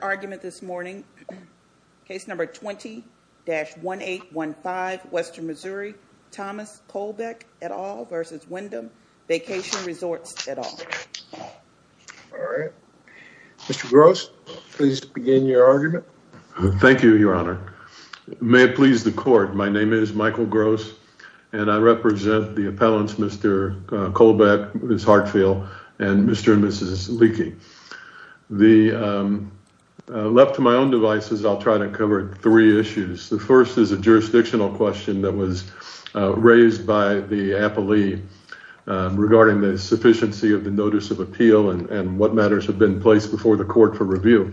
Argument this morning, case number 20-1815, Western Missouri, Thomas Kohlbeck et al versus Wyndham Vacation Resorts et al. All right, Mr. Gross, please begin your argument. Thank you, Your Honor. May it please the court, my name is Michael Gross and I represent the appellants Mr. Kohlbeck, Ms. Hartfield, and Mr. and Mrs. Leakey. Left to my own devices, I'll try to cover three issues. The first is a jurisdictional question that was raised by the appellee regarding the sufficiency of the notice of appeal and what matters have been placed before the court for review.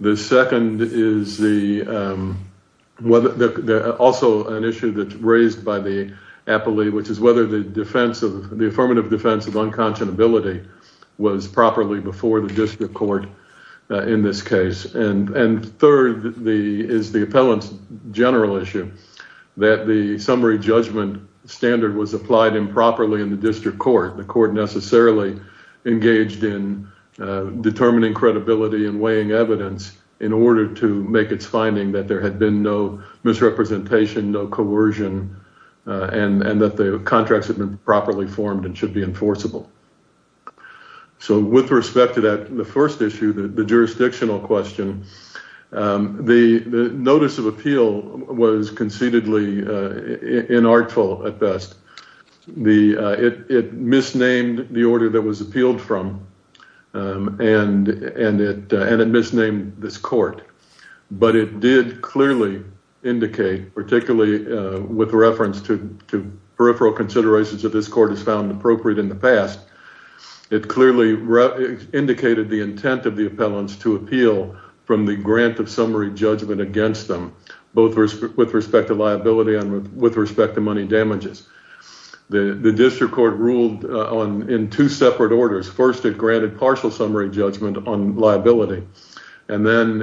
The second is also an issue that's raised by the appellee, which is whether the defense of the affirmative defense of unconscionability was properly before the district court in this case. And third is the appellant's general issue that the summary judgment standard was applied improperly in the district court. The court necessarily engaged in determining credibility and weighing evidence in order to make its finding that there had been no misrepresentation, no coercion, and that the contracts had been properly formed and should be enforceable. So with respect to that, the first issue, the jurisdictional question, the notice of appeal was concededly inartful at best. It misnamed the order that was appealed from and it misnamed this court. But it did clearly indicate, particularly with reference to peripheral considerations that this court has found appropriate in the past, it clearly indicated the intent of the appellants to appeal from the grant of summary judgment against them, both with respect to liability and with respect to money damages. The district court ruled in two separate orders. First, it granted partial summary judgment on liability. And then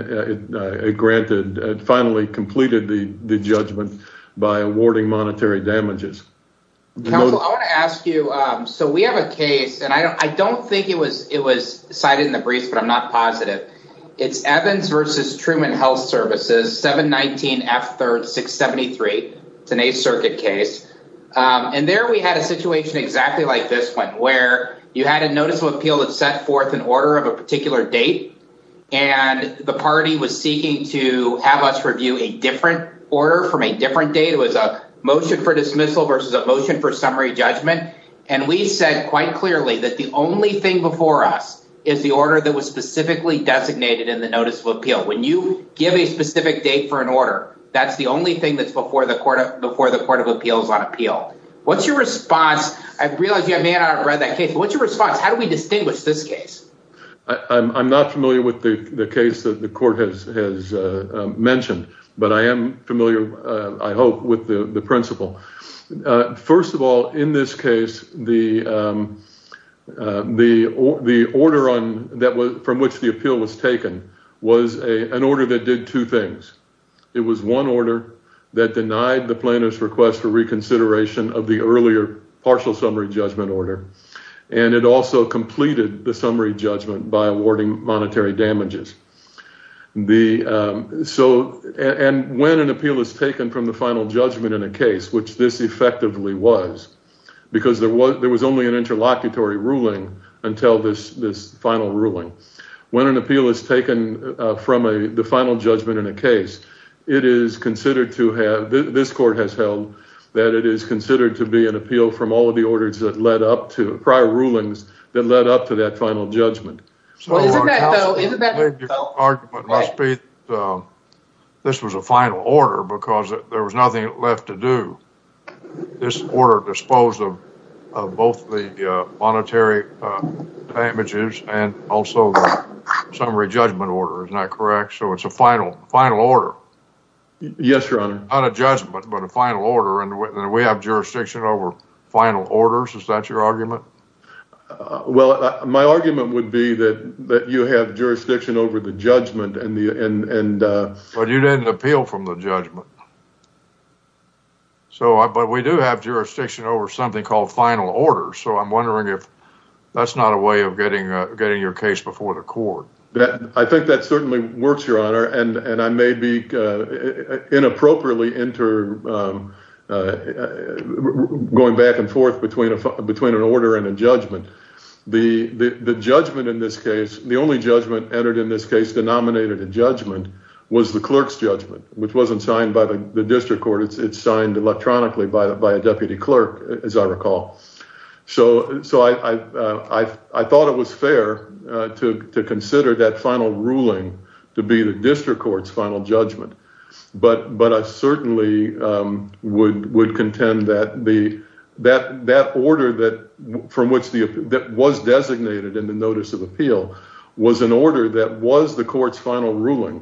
it granted, it finally completed the judgment by awarding monetary damages. Counsel, I want to ask you, so we have a case, and I don't think it was cited in the briefs, but I'm not positive. It's Evans versus Truman Health Services, 719F3-673. It's an Eighth Circuit case. And there we had a situation exactly like this one, where you had a notice of appeal that set forth an order of a particular date. And the party was seeking to have us review a different order from a different date. It was a motion for dismissal versus a motion for summary judgment. And we said quite clearly that the only thing before us is the order that was specifically designated in the notice of appeal. When you give a specific date for an order, that's the only thing that's before the Court of Appeals on appeal. What's your response? I realize you may not have read that case, but what's your response? How do we distinguish this case? I'm not familiar with the case that the court has mentioned, but I am familiar, I hope, with the principle. First of all, in this case, the order from which the appeal was taken was an order that did two things. It was one order that denied the plaintiff's request for reconsideration of the earlier partial summary judgment order. And it also completed the summary judgment by awarding monetary damages. And when an appeal is taken from the final judgment in a case, which this effectively was, because there was only an interlocutory ruling until this final from the final judgment in a case, it is considered to have, this court has held, that it is considered to be an appeal from all of the orders that led up to, prior rulings, that led up to that final judgment. Well, is it that though? This was a final order because there was nothing left to do. This order disposed of both the summary judgment order. Is that correct? So it's a final order. Yes, Your Honor. Not a judgment, but a final order. And we have jurisdiction over final orders. Is that your argument? Well, my argument would be that you have jurisdiction over the judgment. But you didn't appeal from the judgment. But we do have jurisdiction over something called final orders. So I'm wondering if that's not a way of getting your case before the court. I think that certainly works, Your Honor. And I may be inappropriately going back and forth between an order and a judgment. The judgment in this case, the only judgment entered in this case denominated a judgment, was the clerk's judgment, which wasn't signed by the district court. It's signed electronically by a deputy clerk, as I recall. So I thought it was fair to consider that final ruling to be the district court's final judgment. But I certainly would contend that that order that was designated in the notice of appeal was an order that was the court's final ruling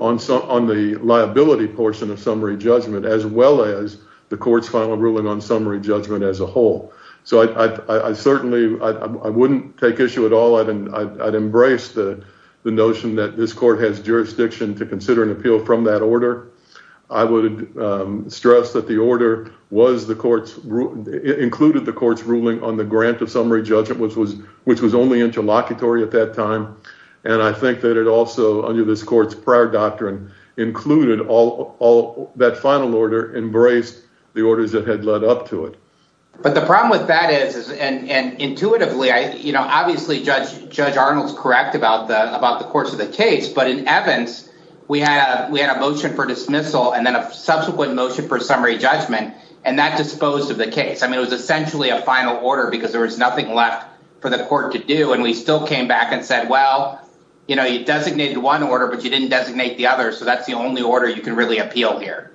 on the liability portion of summary judgment as well as the court's final ruling on summary judgment as a whole. So I certainly, I wouldn't take issue at all. I'd embrace the notion that this court has jurisdiction to consider an appeal from that order. I would stress that the order included the court's ruling on the grant of summary judgment, which was only interlocutory at that time. And I think that it also, under this court's prior doctrine, included all that final order embraced the orders that had led up to it. But the problem with that is, and intuitively, you know, obviously Judge Arnold's correct about the course of the case. But in Evans, we had a motion for dismissal and then a subsequent motion for summary judgment. And that disposed of the case. I mean, it was essentially a final order because there was nothing left for the court to do. And we still came back and said, well, you know, you designated one order, but you didn't designate the other. So that's the only order you can really appeal here.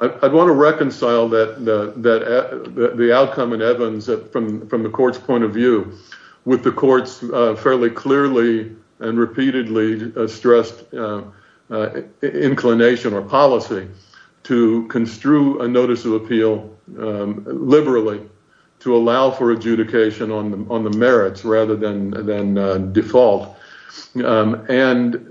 I'd want to reconcile the outcome in Evans from the court's point of view with the court's fairly clearly and repeatedly stressed inclination or policy to construe a notice of appeal liberally to allow for adjudication on the merits rather than default. And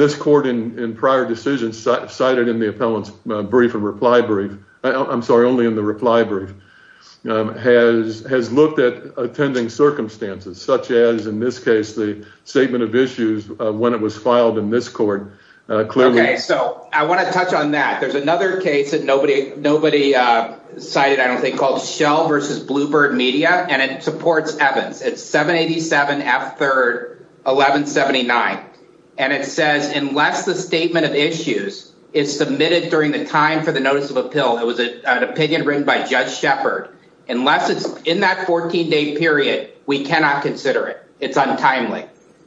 this court in prior decisions cited in the appellant's brief and reply brief, I'm sorry, only in the reply brief, has looked at attending circumstances such as, in this case, the statement of issues when it was filed in this court clearly. Okay, so I want to touch on that. There's another case that nobody cited, I don't think, called Shell versus Bluebird Media, and it supports Evans. It's 787F3-1179. And it says, unless the statement of issues is submitted during the time for the notice of appeal, it was an opinion written by Judge Shepard, unless it's in that 14-day period, we cannot consider it. It's untimely.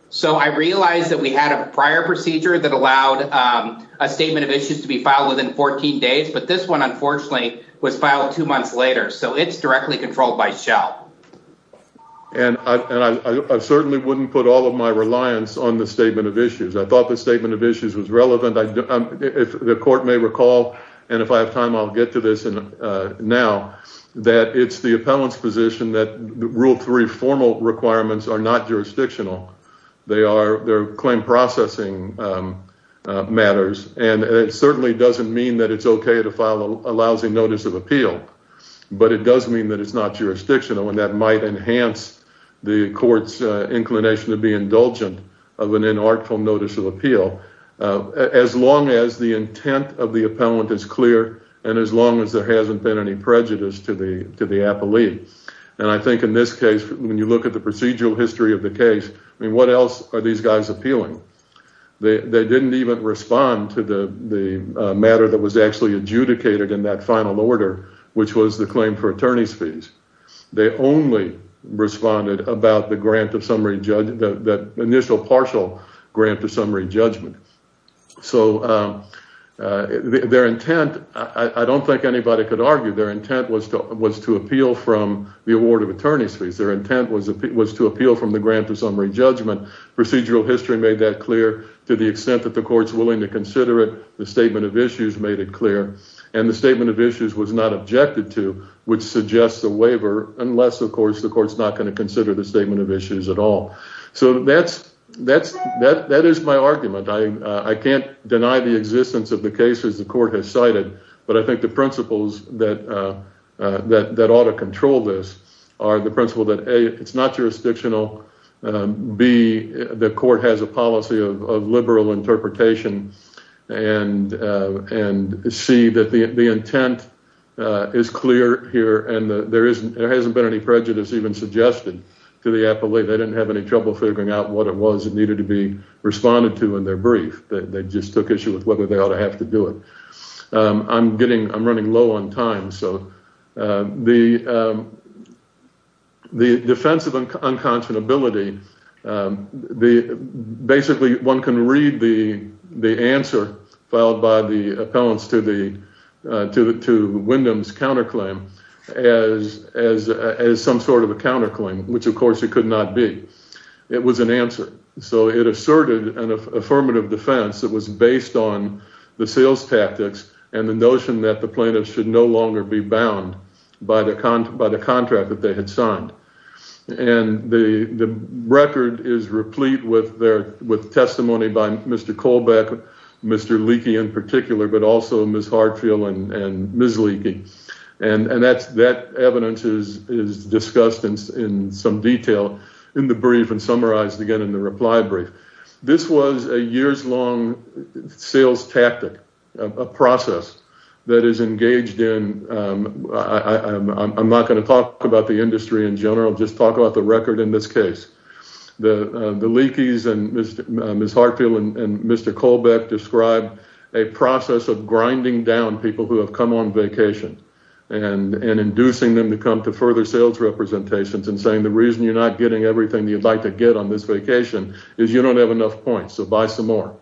So I realized that we had a prior procedure that allowed a statement of issues to be filed within 14 days, but this one, unfortunately, was filed two months later. So it's directly controlled by Shell. And I certainly wouldn't put all of my reliance on the statement of issues. I thought the statement of issues was relevant. If the court may recall, and if I have time, I'll get to this now, that it's the appellant's position that Rule 3 formal requirements are not jurisdictional. They are claim processing matters, and it certainly doesn't mean that it's okay to file a lousy notice of appeal, but it does mean that it's not jurisdictional, and that might enhance the court's inclination to be indulgent of an inarticulate notice of appeal, as long as the intent of the appellant is clear and as long as there hasn't been any prejudice to the appellee. And I think in this case, when you look at the procedural history of the case, I mean, what else are these guys appealing? They didn't even respond to the matter that was actually adjudicated in that final order, which was the claim for attorney's fees. They only responded about the grant of summary, the initial partial grant of summary judgment. So their intent, I don't think anybody could argue, their intent was to appeal from the award of attorney's fees. Their intent was to appeal from the grant of summary judgment. Procedural history made that clear to the extent that the court's willing to consider it. The statement of issues made it clear, and the statement of issues was not objected to, which suggests a waiver, unless, of course, the court's not going to consider the statement of issues at all. So that is my argument. I can't insist on the case as the court has cited, but I think the principles that ought to control this are the principle that, A, it's not jurisdictional, B, the court has a policy of liberal interpretation, and C, that the intent is clear here and there hasn't been any prejudice even suggested to the appellee. They didn't have any trouble figuring out what it was that needed to responded to in their brief. They just took issue with whether they ought to have to do it. I'm running low on time, so the defense of unconscionability, basically, one can read the answer filed by the appellants to Wyndham's counterclaim as some sort of a counterclaim, which, of course, it could not be. It was an answer. So it asserted an affirmative defense that was based on the sales tactics and the notion that the plaintiff should no longer be bound by the contract that they had signed. The record is replete with testimony by Mr. Kolbeck, Mr. Leakey in particular, but also Ms. Hartfield and Ms. Leakey. That evidence is discussed in some detail in the brief and summarized again in the reply brief. This was a years-long sales tactic, a process that is engaged in, I'm not going to talk about the industry in general, just talk about the record in this case. The Leakeys and Ms. Hartfield and Mr. Kolbeck described a process of grinding down people who have come on vacation and inducing them to come to further sales representations and saying the reason you're not getting everything you'd like to get on this vacation is you don't have enough points, so buy some more.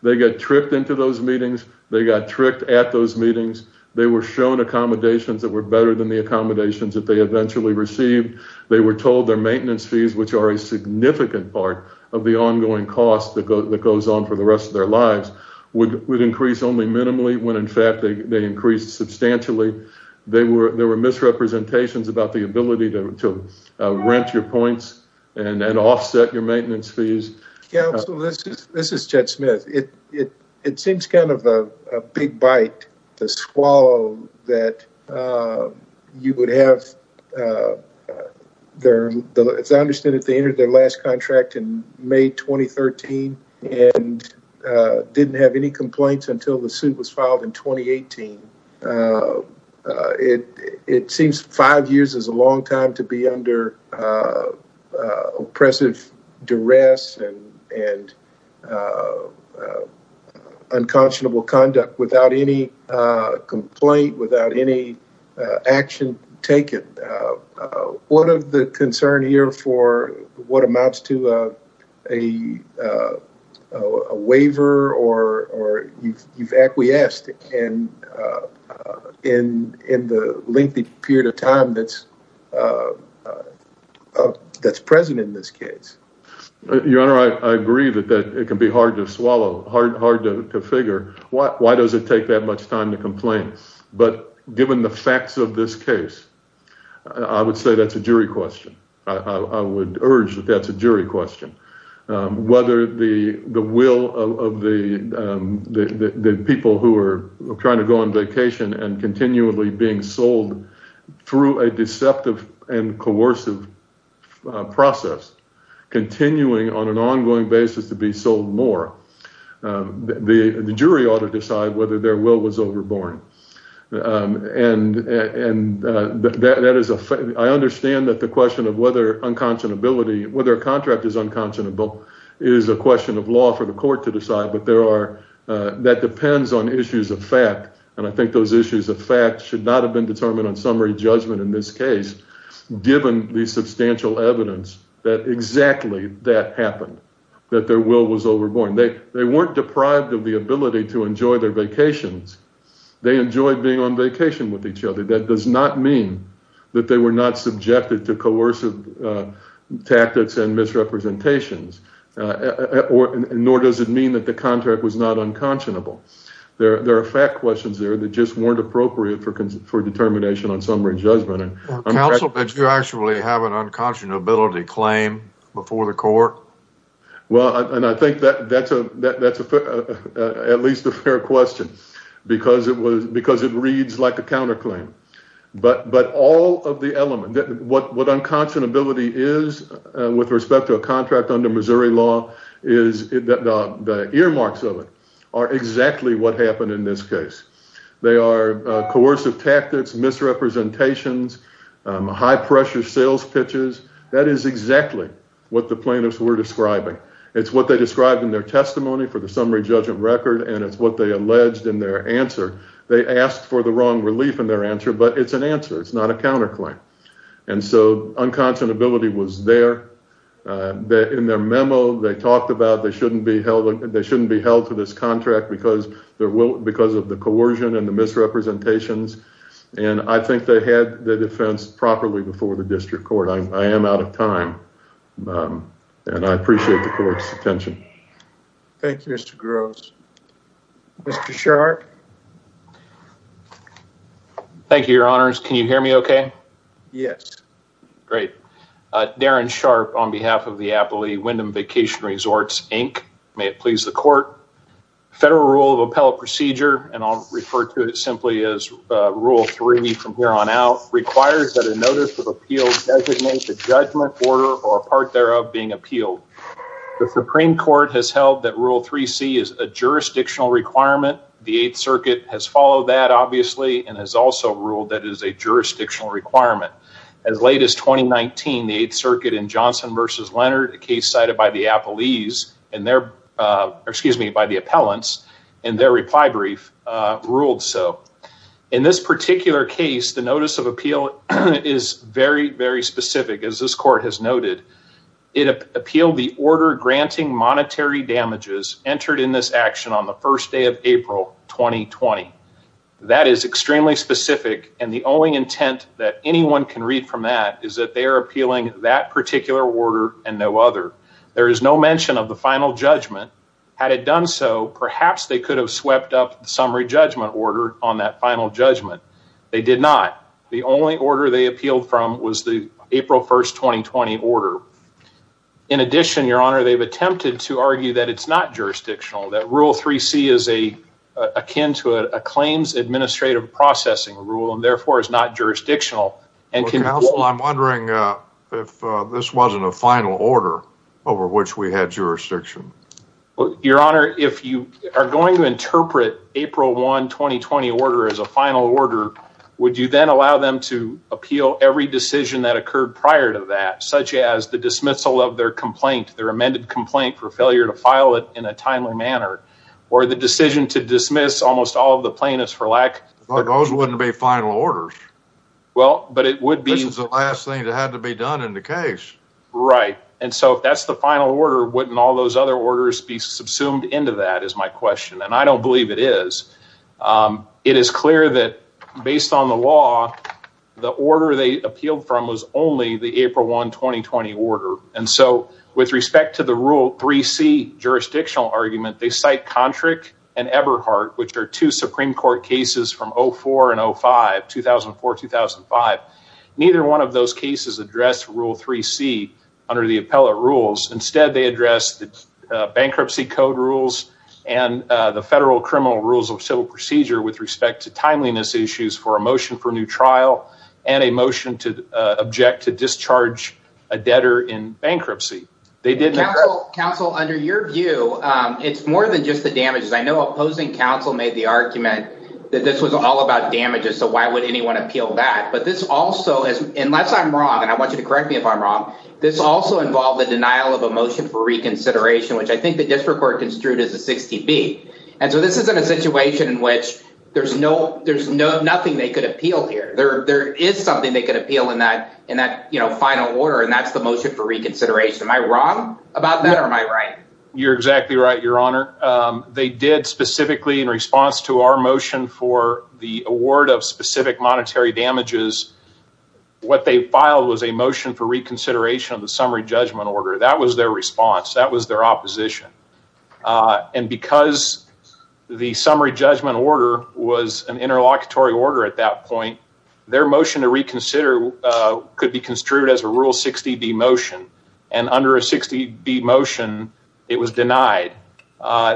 They got tricked into those meetings. They got tricked at those meetings. They were shown accommodations that were better than the accommodations they eventually received. They were told their maintenance fees, which are a significant part of the ongoing cost that goes on for the rest of their lives, would increase only minimally when in fact they increased substantially. There were misrepresentations about the ability to rent your points and offset your maintenance fees. Yeah, so this is Chet Smith. It seems kind of a big bite to swallow that you would have their, as I understand it, they entered their last contract in May 2013 and didn't have any complaints until the suit was filed in 2018. It seems five years is a long time to be under oppressive duress and unconscionable conduct without any complaint, without any action taken. One of the concerns here for what amounts to a waiver or you've acquiesced in the lengthy period of time that's present in this case. Your Honor, I agree that it can be hard to swallow, hard to figure why does it take that much time to complain, but given the facts of this case, I would say that's a jury question. I would urge that that's a jury question. Whether the will of the people who are trying to go on vacation and continually being sold through a deceptive and coercive process, continuing on an ongoing basis to be sold more, the jury ought to decide whether their will was overborne. I understand that the question of whether unconscionability, whether a contract is unconscionable is a question of law for the court to decide, but that depends on issues of fact. I think those issues of fact should not have been determined on summary judgment in this case, given the substantial evidence that exactly that happened, that their will was overborne. They weren't deprived of the ability to enjoy their vacations. They enjoyed being on vacation with each other. That does not mean that they were not subjected to coercive tactics and misrepresentations, nor does it mean that the contract was not unconscionable. There are fact questions there that just weren't appropriate for determination on summary judgment. Counsel, did you actually have an unconscionability claim before the court? Well, and I think that's at least a fair question, because it reads like a counterclaim. But all of the elements, what unconscionability is with respect to a contract under Missouri law is the earmarks of it are exactly what happened in this case. They are coercive tactics, misrepresentations, high-pressure sales pitches. That is exactly what the plaintiffs were describing. It's what they described in their testimony for the summary judgment record, and it's what they alleged in their answer. They asked for the wrong relief in their answer, but it's an answer. It's not a counterclaim. And so unconscionability was there. In their memo, they talked about they shouldn't be held to this contract because of the coercion and the misrepresentations, and I think they had the defense properly before the district court. I am out of time, and I appreciate the court's attention. Thank you, Mr. Groves. Mr. Sharpe. Thank you, your honors. Can you hear me okay? Yes. Great. Darren Sharpe on behalf of the Appalachee Windham Vacation Resorts, Inc. May it please the court. The federal rule of appellate procedure, and I'll refer to it simply as Rule 3 from here on out, requires that a notice of appeal designates a judgment order or a part thereof being appealed. The Supreme Court has held that Rule 3C is a jurisdictional requirement. The Eighth Circuit has followed that, obviously, and has also ruled that it is a jurisdictional requirement. As late as 2019, the Eighth Circuit in Johnson v. Leonard, a case cited by the appellants in their reply brief, ruled so. In this particular case, the notice of appeal is very, very specific, as this court has noted. It appealed the order granting monetary damages entered in this action on the first day of April 2020. That is extremely specific, and the only intent that anyone can read from that is that they are appealing that particular order and no other. There is no mention of the final judgment. Had it done so, perhaps they could have swept up the summary judgment order on that final judgment. They did not. The only order they appealed from was the April 1st, 2020 order. In addition, Your Honor, they've attempted to argue that it's not jurisdictional, that Rule 3C is akin to a claims administrative processing rule, and therefore is not jurisdictional. Counsel, I'm wondering if this wasn't a final order over which we had jurisdiction. Your Honor, if you are going to interpret April 1, 2020 order as a final order, would you then allow them to appeal every decision that occurred prior to that, such as the dismissal of their complaint, their amended complaint for failure to file it in a timely manner, or the decision to dismiss almost all of the plaintiffs for lack... Those wouldn't be final orders. Well, but it would be... This is the last thing that had to be done in the case. Right, and so if that's the final order, wouldn't all those other orders be subsumed into that, is my question, and I don't believe it is. It is clear that based on the law, the order they appealed from was only the April 1, 2020 order, and so with respect to the Rule 3C jurisdictional argument, they cite Kontrick and Eberhardt, which are two Supreme Court cases from 2004 and 2005. Neither one of those cases addressed Rule 3C under the appellate rules. Instead, they addressed the bankruptcy code rules and the federal criminal rules of civil procedure with respect to timeliness issues for a motion for new trial and a motion to object to discharge a debtor in bankruptcy. They did that... Counsel, under your view, it's more than just the damages. I know opposing counsel made the argument that this was all about damages, so why would anyone appeal that, but this also is... Unless I'm wrong, and I want you to correct me if I'm wrong, this also involved the denial of a motion for reconsideration, which I think the district court construed as a 60B, and so this isn't a situation in which there's nothing they could appeal here. There is something they could appeal in that final order, and that's the motion for reconsideration. What they did specifically in response to our motion for the award of specific monetary damages, what they filed was a motion for reconsideration of the summary judgment order. That was their response. That was their opposition, and because the summary judgment order was an interlocutory order at that point, their motion to reconsider could be construed as a Rule 60B motion, and under a 60B motion, it was denied.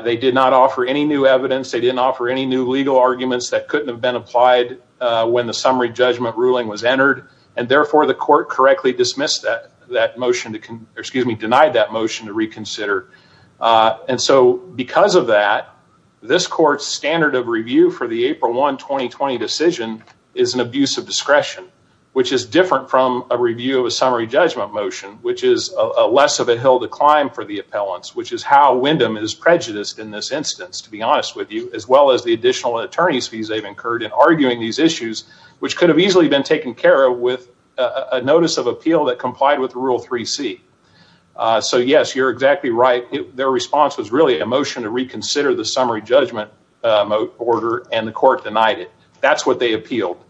They did not offer any new evidence. They didn't offer any new legal arguments that couldn't have been applied when the summary judgment ruling was entered, and therefore, the court correctly dismissed that motion to... Excuse me, denied that motion to reconsider, and so because of that, this court's standard of review for the April 1, 2020 decision is an abuse of discretion, which is different from a review of a summary judgment motion, which is less of a hill to climb for the appellants, which is how Wyndham is prejudiced in this instance, to be honest with you, as well as the additional attorney's fees they've incurred in arguing these issues, which could have easily been taken care of with a notice of appeal that complied with Rule 3C. So yes, you're exactly right. Their response was really a motion to reconsider the summary judgment order, and the court denied it. That's what they appealed,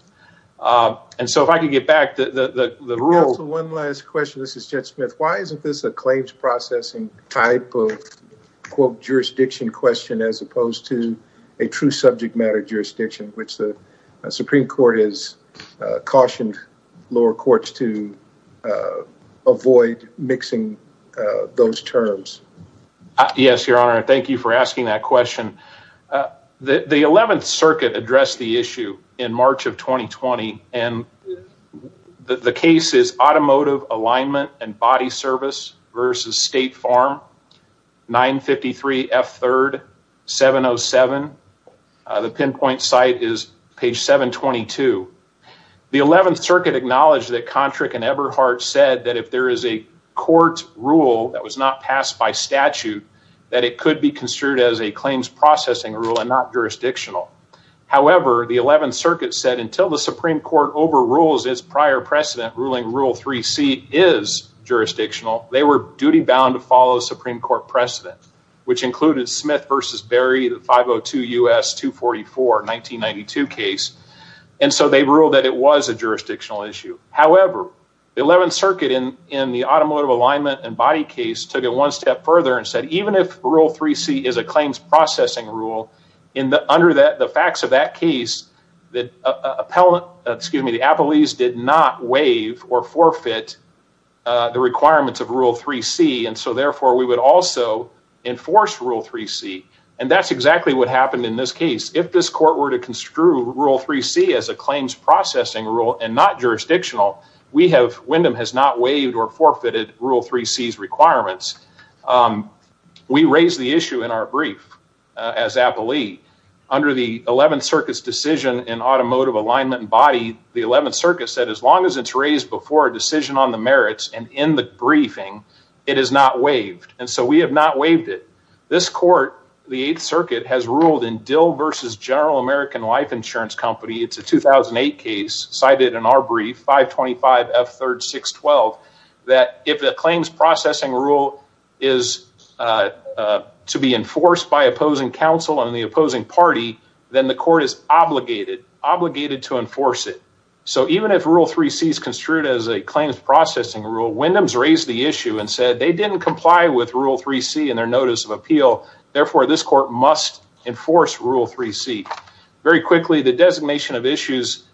and so if I could get back to the rule... Counsel, one last question. This is Jed Smith. Why isn't this a claims processing type of, quote, jurisdiction question as opposed to a true subject matter jurisdiction, which the Supreme Court has cautioned lower courts to avoid mixing those terms? Yes, Your Honor. Thank you for asking that question. The 11th Circuit addressed the issue in March of 2020, and the case is Automotive Alignment and Body Service versus State Farm, 953 F3rd 707. The pinpoint site is page 722. The 11th Circuit acknowledged that Kontrick and Eberhardt said that if there is a court rule that was not passed by statute, that it could be considered as a claims processing rule and not jurisdictional. However, the 11th Circuit said until the Supreme Court overrules its prior precedent ruling Rule 3C is jurisdictional, they were duty-bound to follow the Supreme Court precedent, which included Smith v. Berry, the 502 U.S. 244 1992 case, and so they ruled that it was a jurisdictional issue. However, the 11th Circuit in the Automotive Alignment and Body case took it a step further and said even if Rule 3C is a claims processing rule, under the facts of that case, the appellees did not waive or forfeit the requirements of Rule 3C, and so therefore we would also enforce Rule 3C, and that's exactly what happened in this case. If this court were to construe Rule 3C as a claims processing rule and not jurisdictional, Windham has not waived or forfeited. We raised the issue in our brief as appellee under the 11th Circuit's decision in Automotive Alignment and Body, the 11th Circuit said as long as it's raised before a decision on the merits and in the briefing, it is not waived, and so we have not waived it. This court, the 8th Circuit, has ruled in Dill v. General American Life Insurance Company, it's a 2008 case cited in our brief, 525 F. 3rd 612, that if the claims processing rule is to be enforced by opposing counsel and the opposing party, then the court is obligated, obligated to enforce it. So even if Rule 3C is construed as a claims processing rule, Windham's raised the issue and said they didn't comply with Rule 3C in their notice of appeal, therefore this court must enforce Rule 3C. Very quickly, the designation of issues,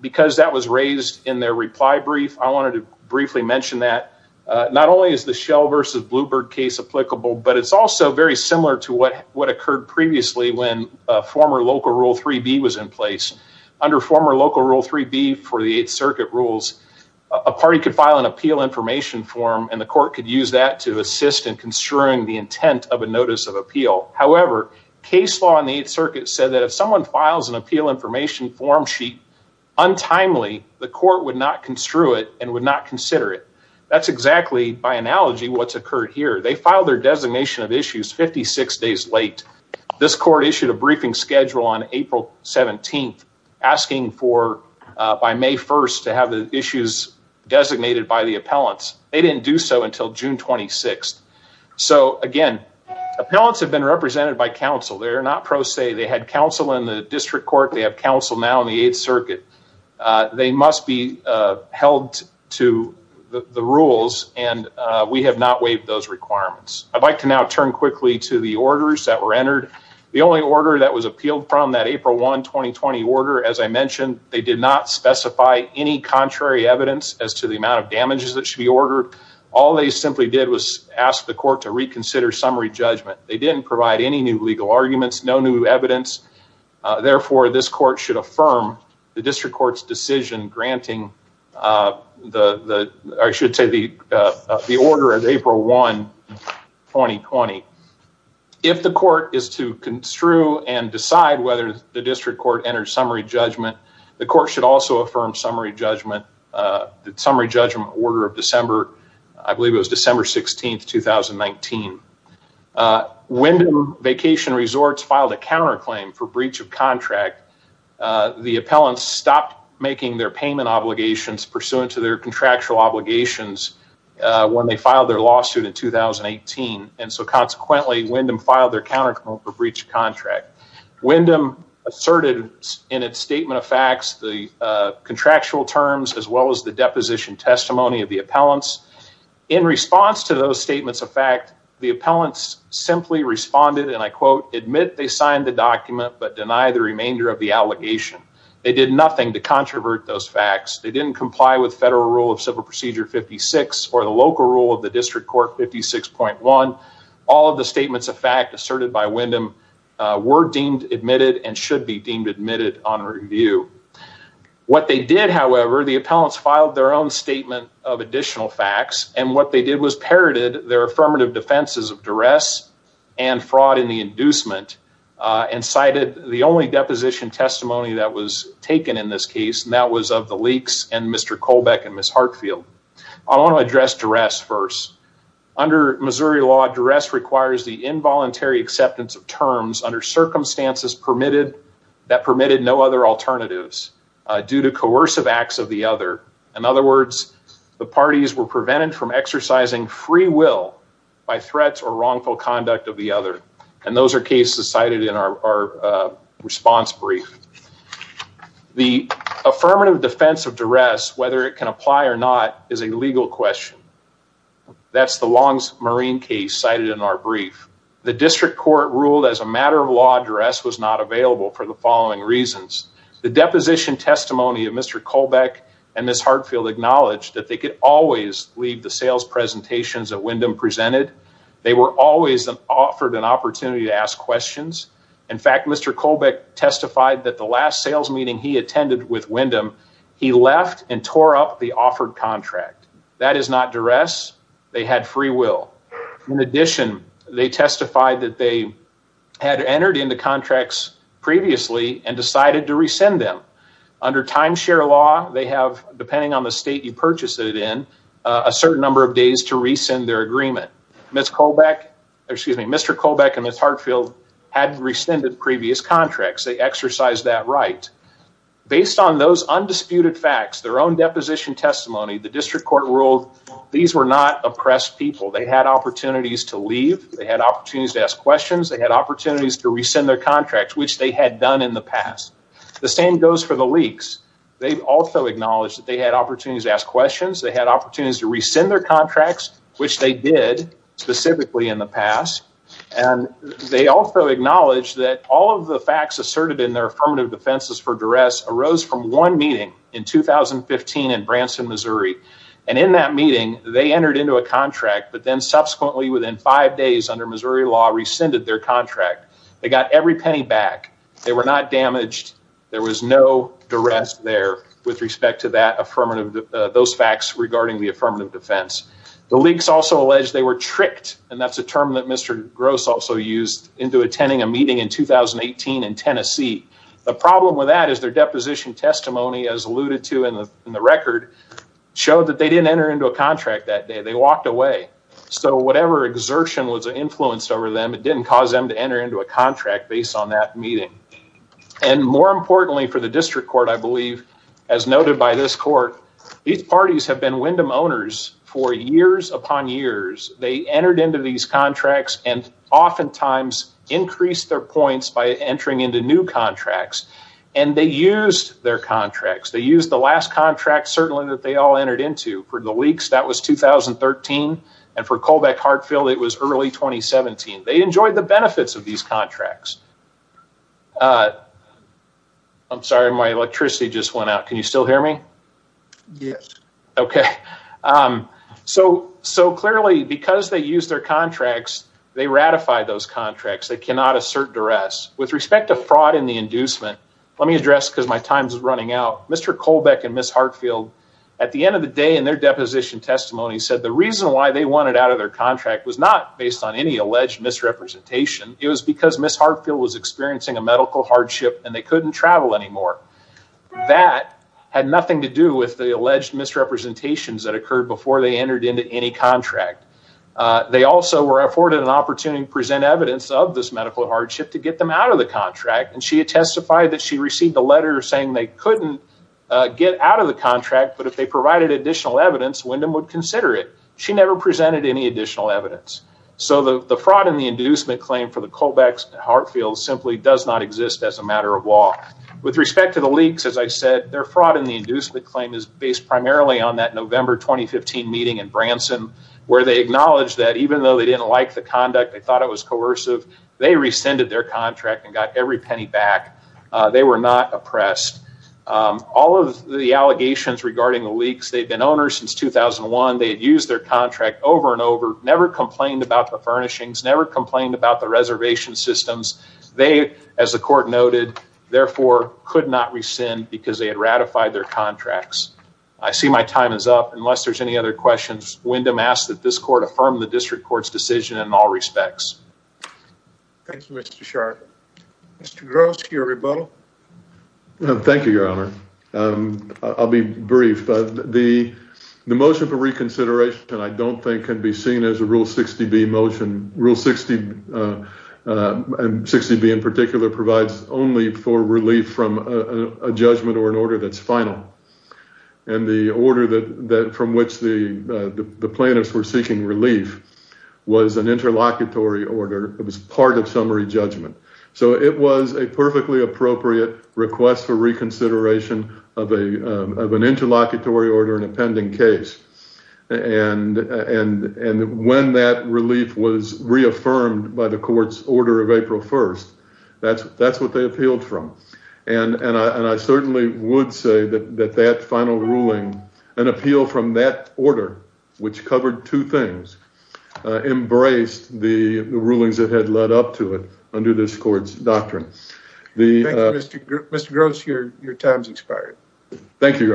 because that was raised in their reply brief, I wanted to briefly mention that. Not only is the Shell v. Bluebird case applicable, but it's also very similar to what occurred previously when former Local Rule 3B was in place. Under former Local Rule 3B for the 8th Circuit rules, a party could file an appeal information form and the court could use that to assist in construing the intent of a notice of appeal. However, case law in the 8th Circuit said that if someone files an appeal information form sheet untimely, the court would not construe it and would not consider it. That's exactly, by analogy, what's occurred here. They filed their designation of issues 56 days late. This court issued a briefing schedule on April 17th, asking for, by May 1st, to have the issues designated by the appellants. They didn't do so until June 26th. So, again, appellants have been represented by counsel. They're not pro se. They had counsel in the district court. They have counsel now in the 8th Circuit. They must be held to the rules and we have not waived those requirements. I'd like to now turn quickly to the orders that were entered. The only order that was appealed from that April 1, 2020 order, as I mentioned, they did not specify any contrary evidence as to the damages that should be ordered. All they simply did was ask the court to reconsider summary judgment. They didn't provide any new legal arguments, no new evidence. Therefore, this court should affirm the district court's decision granting the order of April 1, 2020. If the court is to construe and decide whether the district court enters summary judgment, the court should also affirm summary judgment, the summary judgment order of December, I believe it was December 16th, 2019. Wyndham Vacation Resorts filed a counterclaim for breach of contract. The appellants stopped making their payment obligations pursuant to their contractual obligations when they filed their lawsuit in 2018. And so, consequently, Wyndham filed their counterclaim for breach of contract. Wyndham asserted in its statement of facts the contractual terms as well as the deposition testimony of the appellants. In response to those statements of fact, the appellants simply responded and I quote, admit they signed the document but deny the remainder of the allegation. They did nothing to controvert those facts. They didn't comply with federal rule of civil procedure 56 or the local rule of the district court 56.1. All of the statements of fact asserted by Wyndham were deemed admitted and should be deemed admitted on review. What they did, however, the appellants filed their own statement of additional facts and what they did was parroted their affirmative defenses of duress and fraud in the inducement and cited the only deposition testimony that was taken in this case and that was of the Leakes and requires the involuntary acceptance of terms under circumstances permitted that permitted no other alternatives due to coercive acts of the other. In other words, the parties were prevented from exercising free will by threats or wrongful conduct of the other. And those are cases cited in our response brief. The affirmative defense of duress, whether it can apply or not, is a legal question. That's the Long's Marine case cited in our brief. The district court ruled as a matter of law duress was not available for the following reasons. The deposition testimony of Mr. Colbeck and Ms. Hartfield acknowledged that they could always leave the sales presentations that Wyndham presented. They were always offered an opportunity to ask questions. In fact, Mr. Colbeck testified that the last sales meeting he attended with Wyndham, he left and tore up the offered contract. That is not duress. They had free will. In addition, they testified that they had entered into contracts previously and decided to rescind them. Under timeshare law, they have, depending on the state you purchased it in, a certain number of days to rescind their agreement. Mr. Colbeck and Ms. Hartfield had rescinded previous contracts. They exercised that right. Based on those undisputed facts, their own deposition testimony, the district court ruled these were not oppressed people. They had opportunities to leave. They had opportunities to ask questions. They had opportunities to rescind their contracts, which they had done in the past. The same goes for the leaks. They also acknowledged that they had opportunities to ask questions. They had opportunities to rescind their contracts, which they did specifically in the past. And they also acknowledged that all of the facts asserted in their affirmative defenses for duress arose from one meeting in 2015 in Branson, Missouri. And in that meeting, they entered into a contract, but then subsequently within five days under Missouri law, rescinded their contract. They got every penny back. They were not damaged. There was no duress there with respect to those facts regarding the affirmative defense. The leaks also allege they were tricked, and that's a term that Mr. Gross also used, into attending a meeting in 2018 in Tennessee. The problem with that is their deposition testimony, as alluded to in the record, showed that they didn't enter into a contract that day. They walked away. So whatever exertion was influenced over them, it didn't cause them to enter into a contract based on that meeting. And more importantly for the district court, I believe, as noted by this court, these parties have been Wyndham owners for years upon years. They entered into these contracts and oftentimes increased their points by entering into new contracts. And they used their contracts. They used the last contract certainly that they all entered into for the leaks. That was 2013. And for Colbeck Hartfield, it was early 2017. They enjoyed the benefits of these contracts. I'm sorry. My electricity just went out. Can you still hear me? Yes. Okay. So clearly because they used their contracts, they ratified those contracts. They cannot assert duress. With respect to fraud and the inducement, let me address because my time is running out. Mr. Colbeck and Ms. Hartfield at the end of the day in their deposition testimony said the reason why they wanted out of their contract was not based on any alleged misrepresentation. It was because Ms. Hartfield was experiencing a medical hardship and they couldn't travel anymore. That had nothing to do with the alleged misrepresentations that occurred before they entered into any contract. They also were afforded an opportunity to present evidence of this medical hardship to get them out of the contract. And she had testified that she received a letter saying they couldn't get out of the contract. But if they provided additional evidence, Wyndham would consider it. She never presented any additional evidence. So the fraud and the inducement claim for the Colbeck Hartfield simply does not exist as a leaks. As I said, their fraud and the inducement claim is based primarily on that November 2015 meeting in Branson where they acknowledged that even though they didn't like the conduct, they thought it was coercive. They rescinded their contract and got every penny back. They were not oppressed. All of the allegations regarding the leaks, they've been owners since 2001. They had used their contract over and over, never complained about the furnishings, never complained about the reservation systems. They, as the court noted, therefore could not rescind because they had ratified their contracts. I see my time is up. Unless there's any other questions, Wyndham asked that this court affirm the district court's decision in all respects. Thank you, Mr. Sharp. Mr. Gross, your rebuttal. Thank you, Your Honor. I'll be brief. The motion for reconsideration, I don't think, can be seen as a Rule 60B motion. Rule 60B in particular provides only for relief from a judgment or an order that's final. The order from which the plaintiffs were seeking relief was an interlocutory order. It was part of summary judgment. It was a perfectly appropriate request for reconsideration of an interlocutory order in a pending case. When that relief was reaffirmed by the court's order of April 1st, that's what they appealed from. I certainly would say that that final ruling, an appeal from that order, which covered two things, embraced the rulings that had led up to it under this court's doctrine. Thank you, Mr. Gross. Your time has expired. Thank you, Your Honor.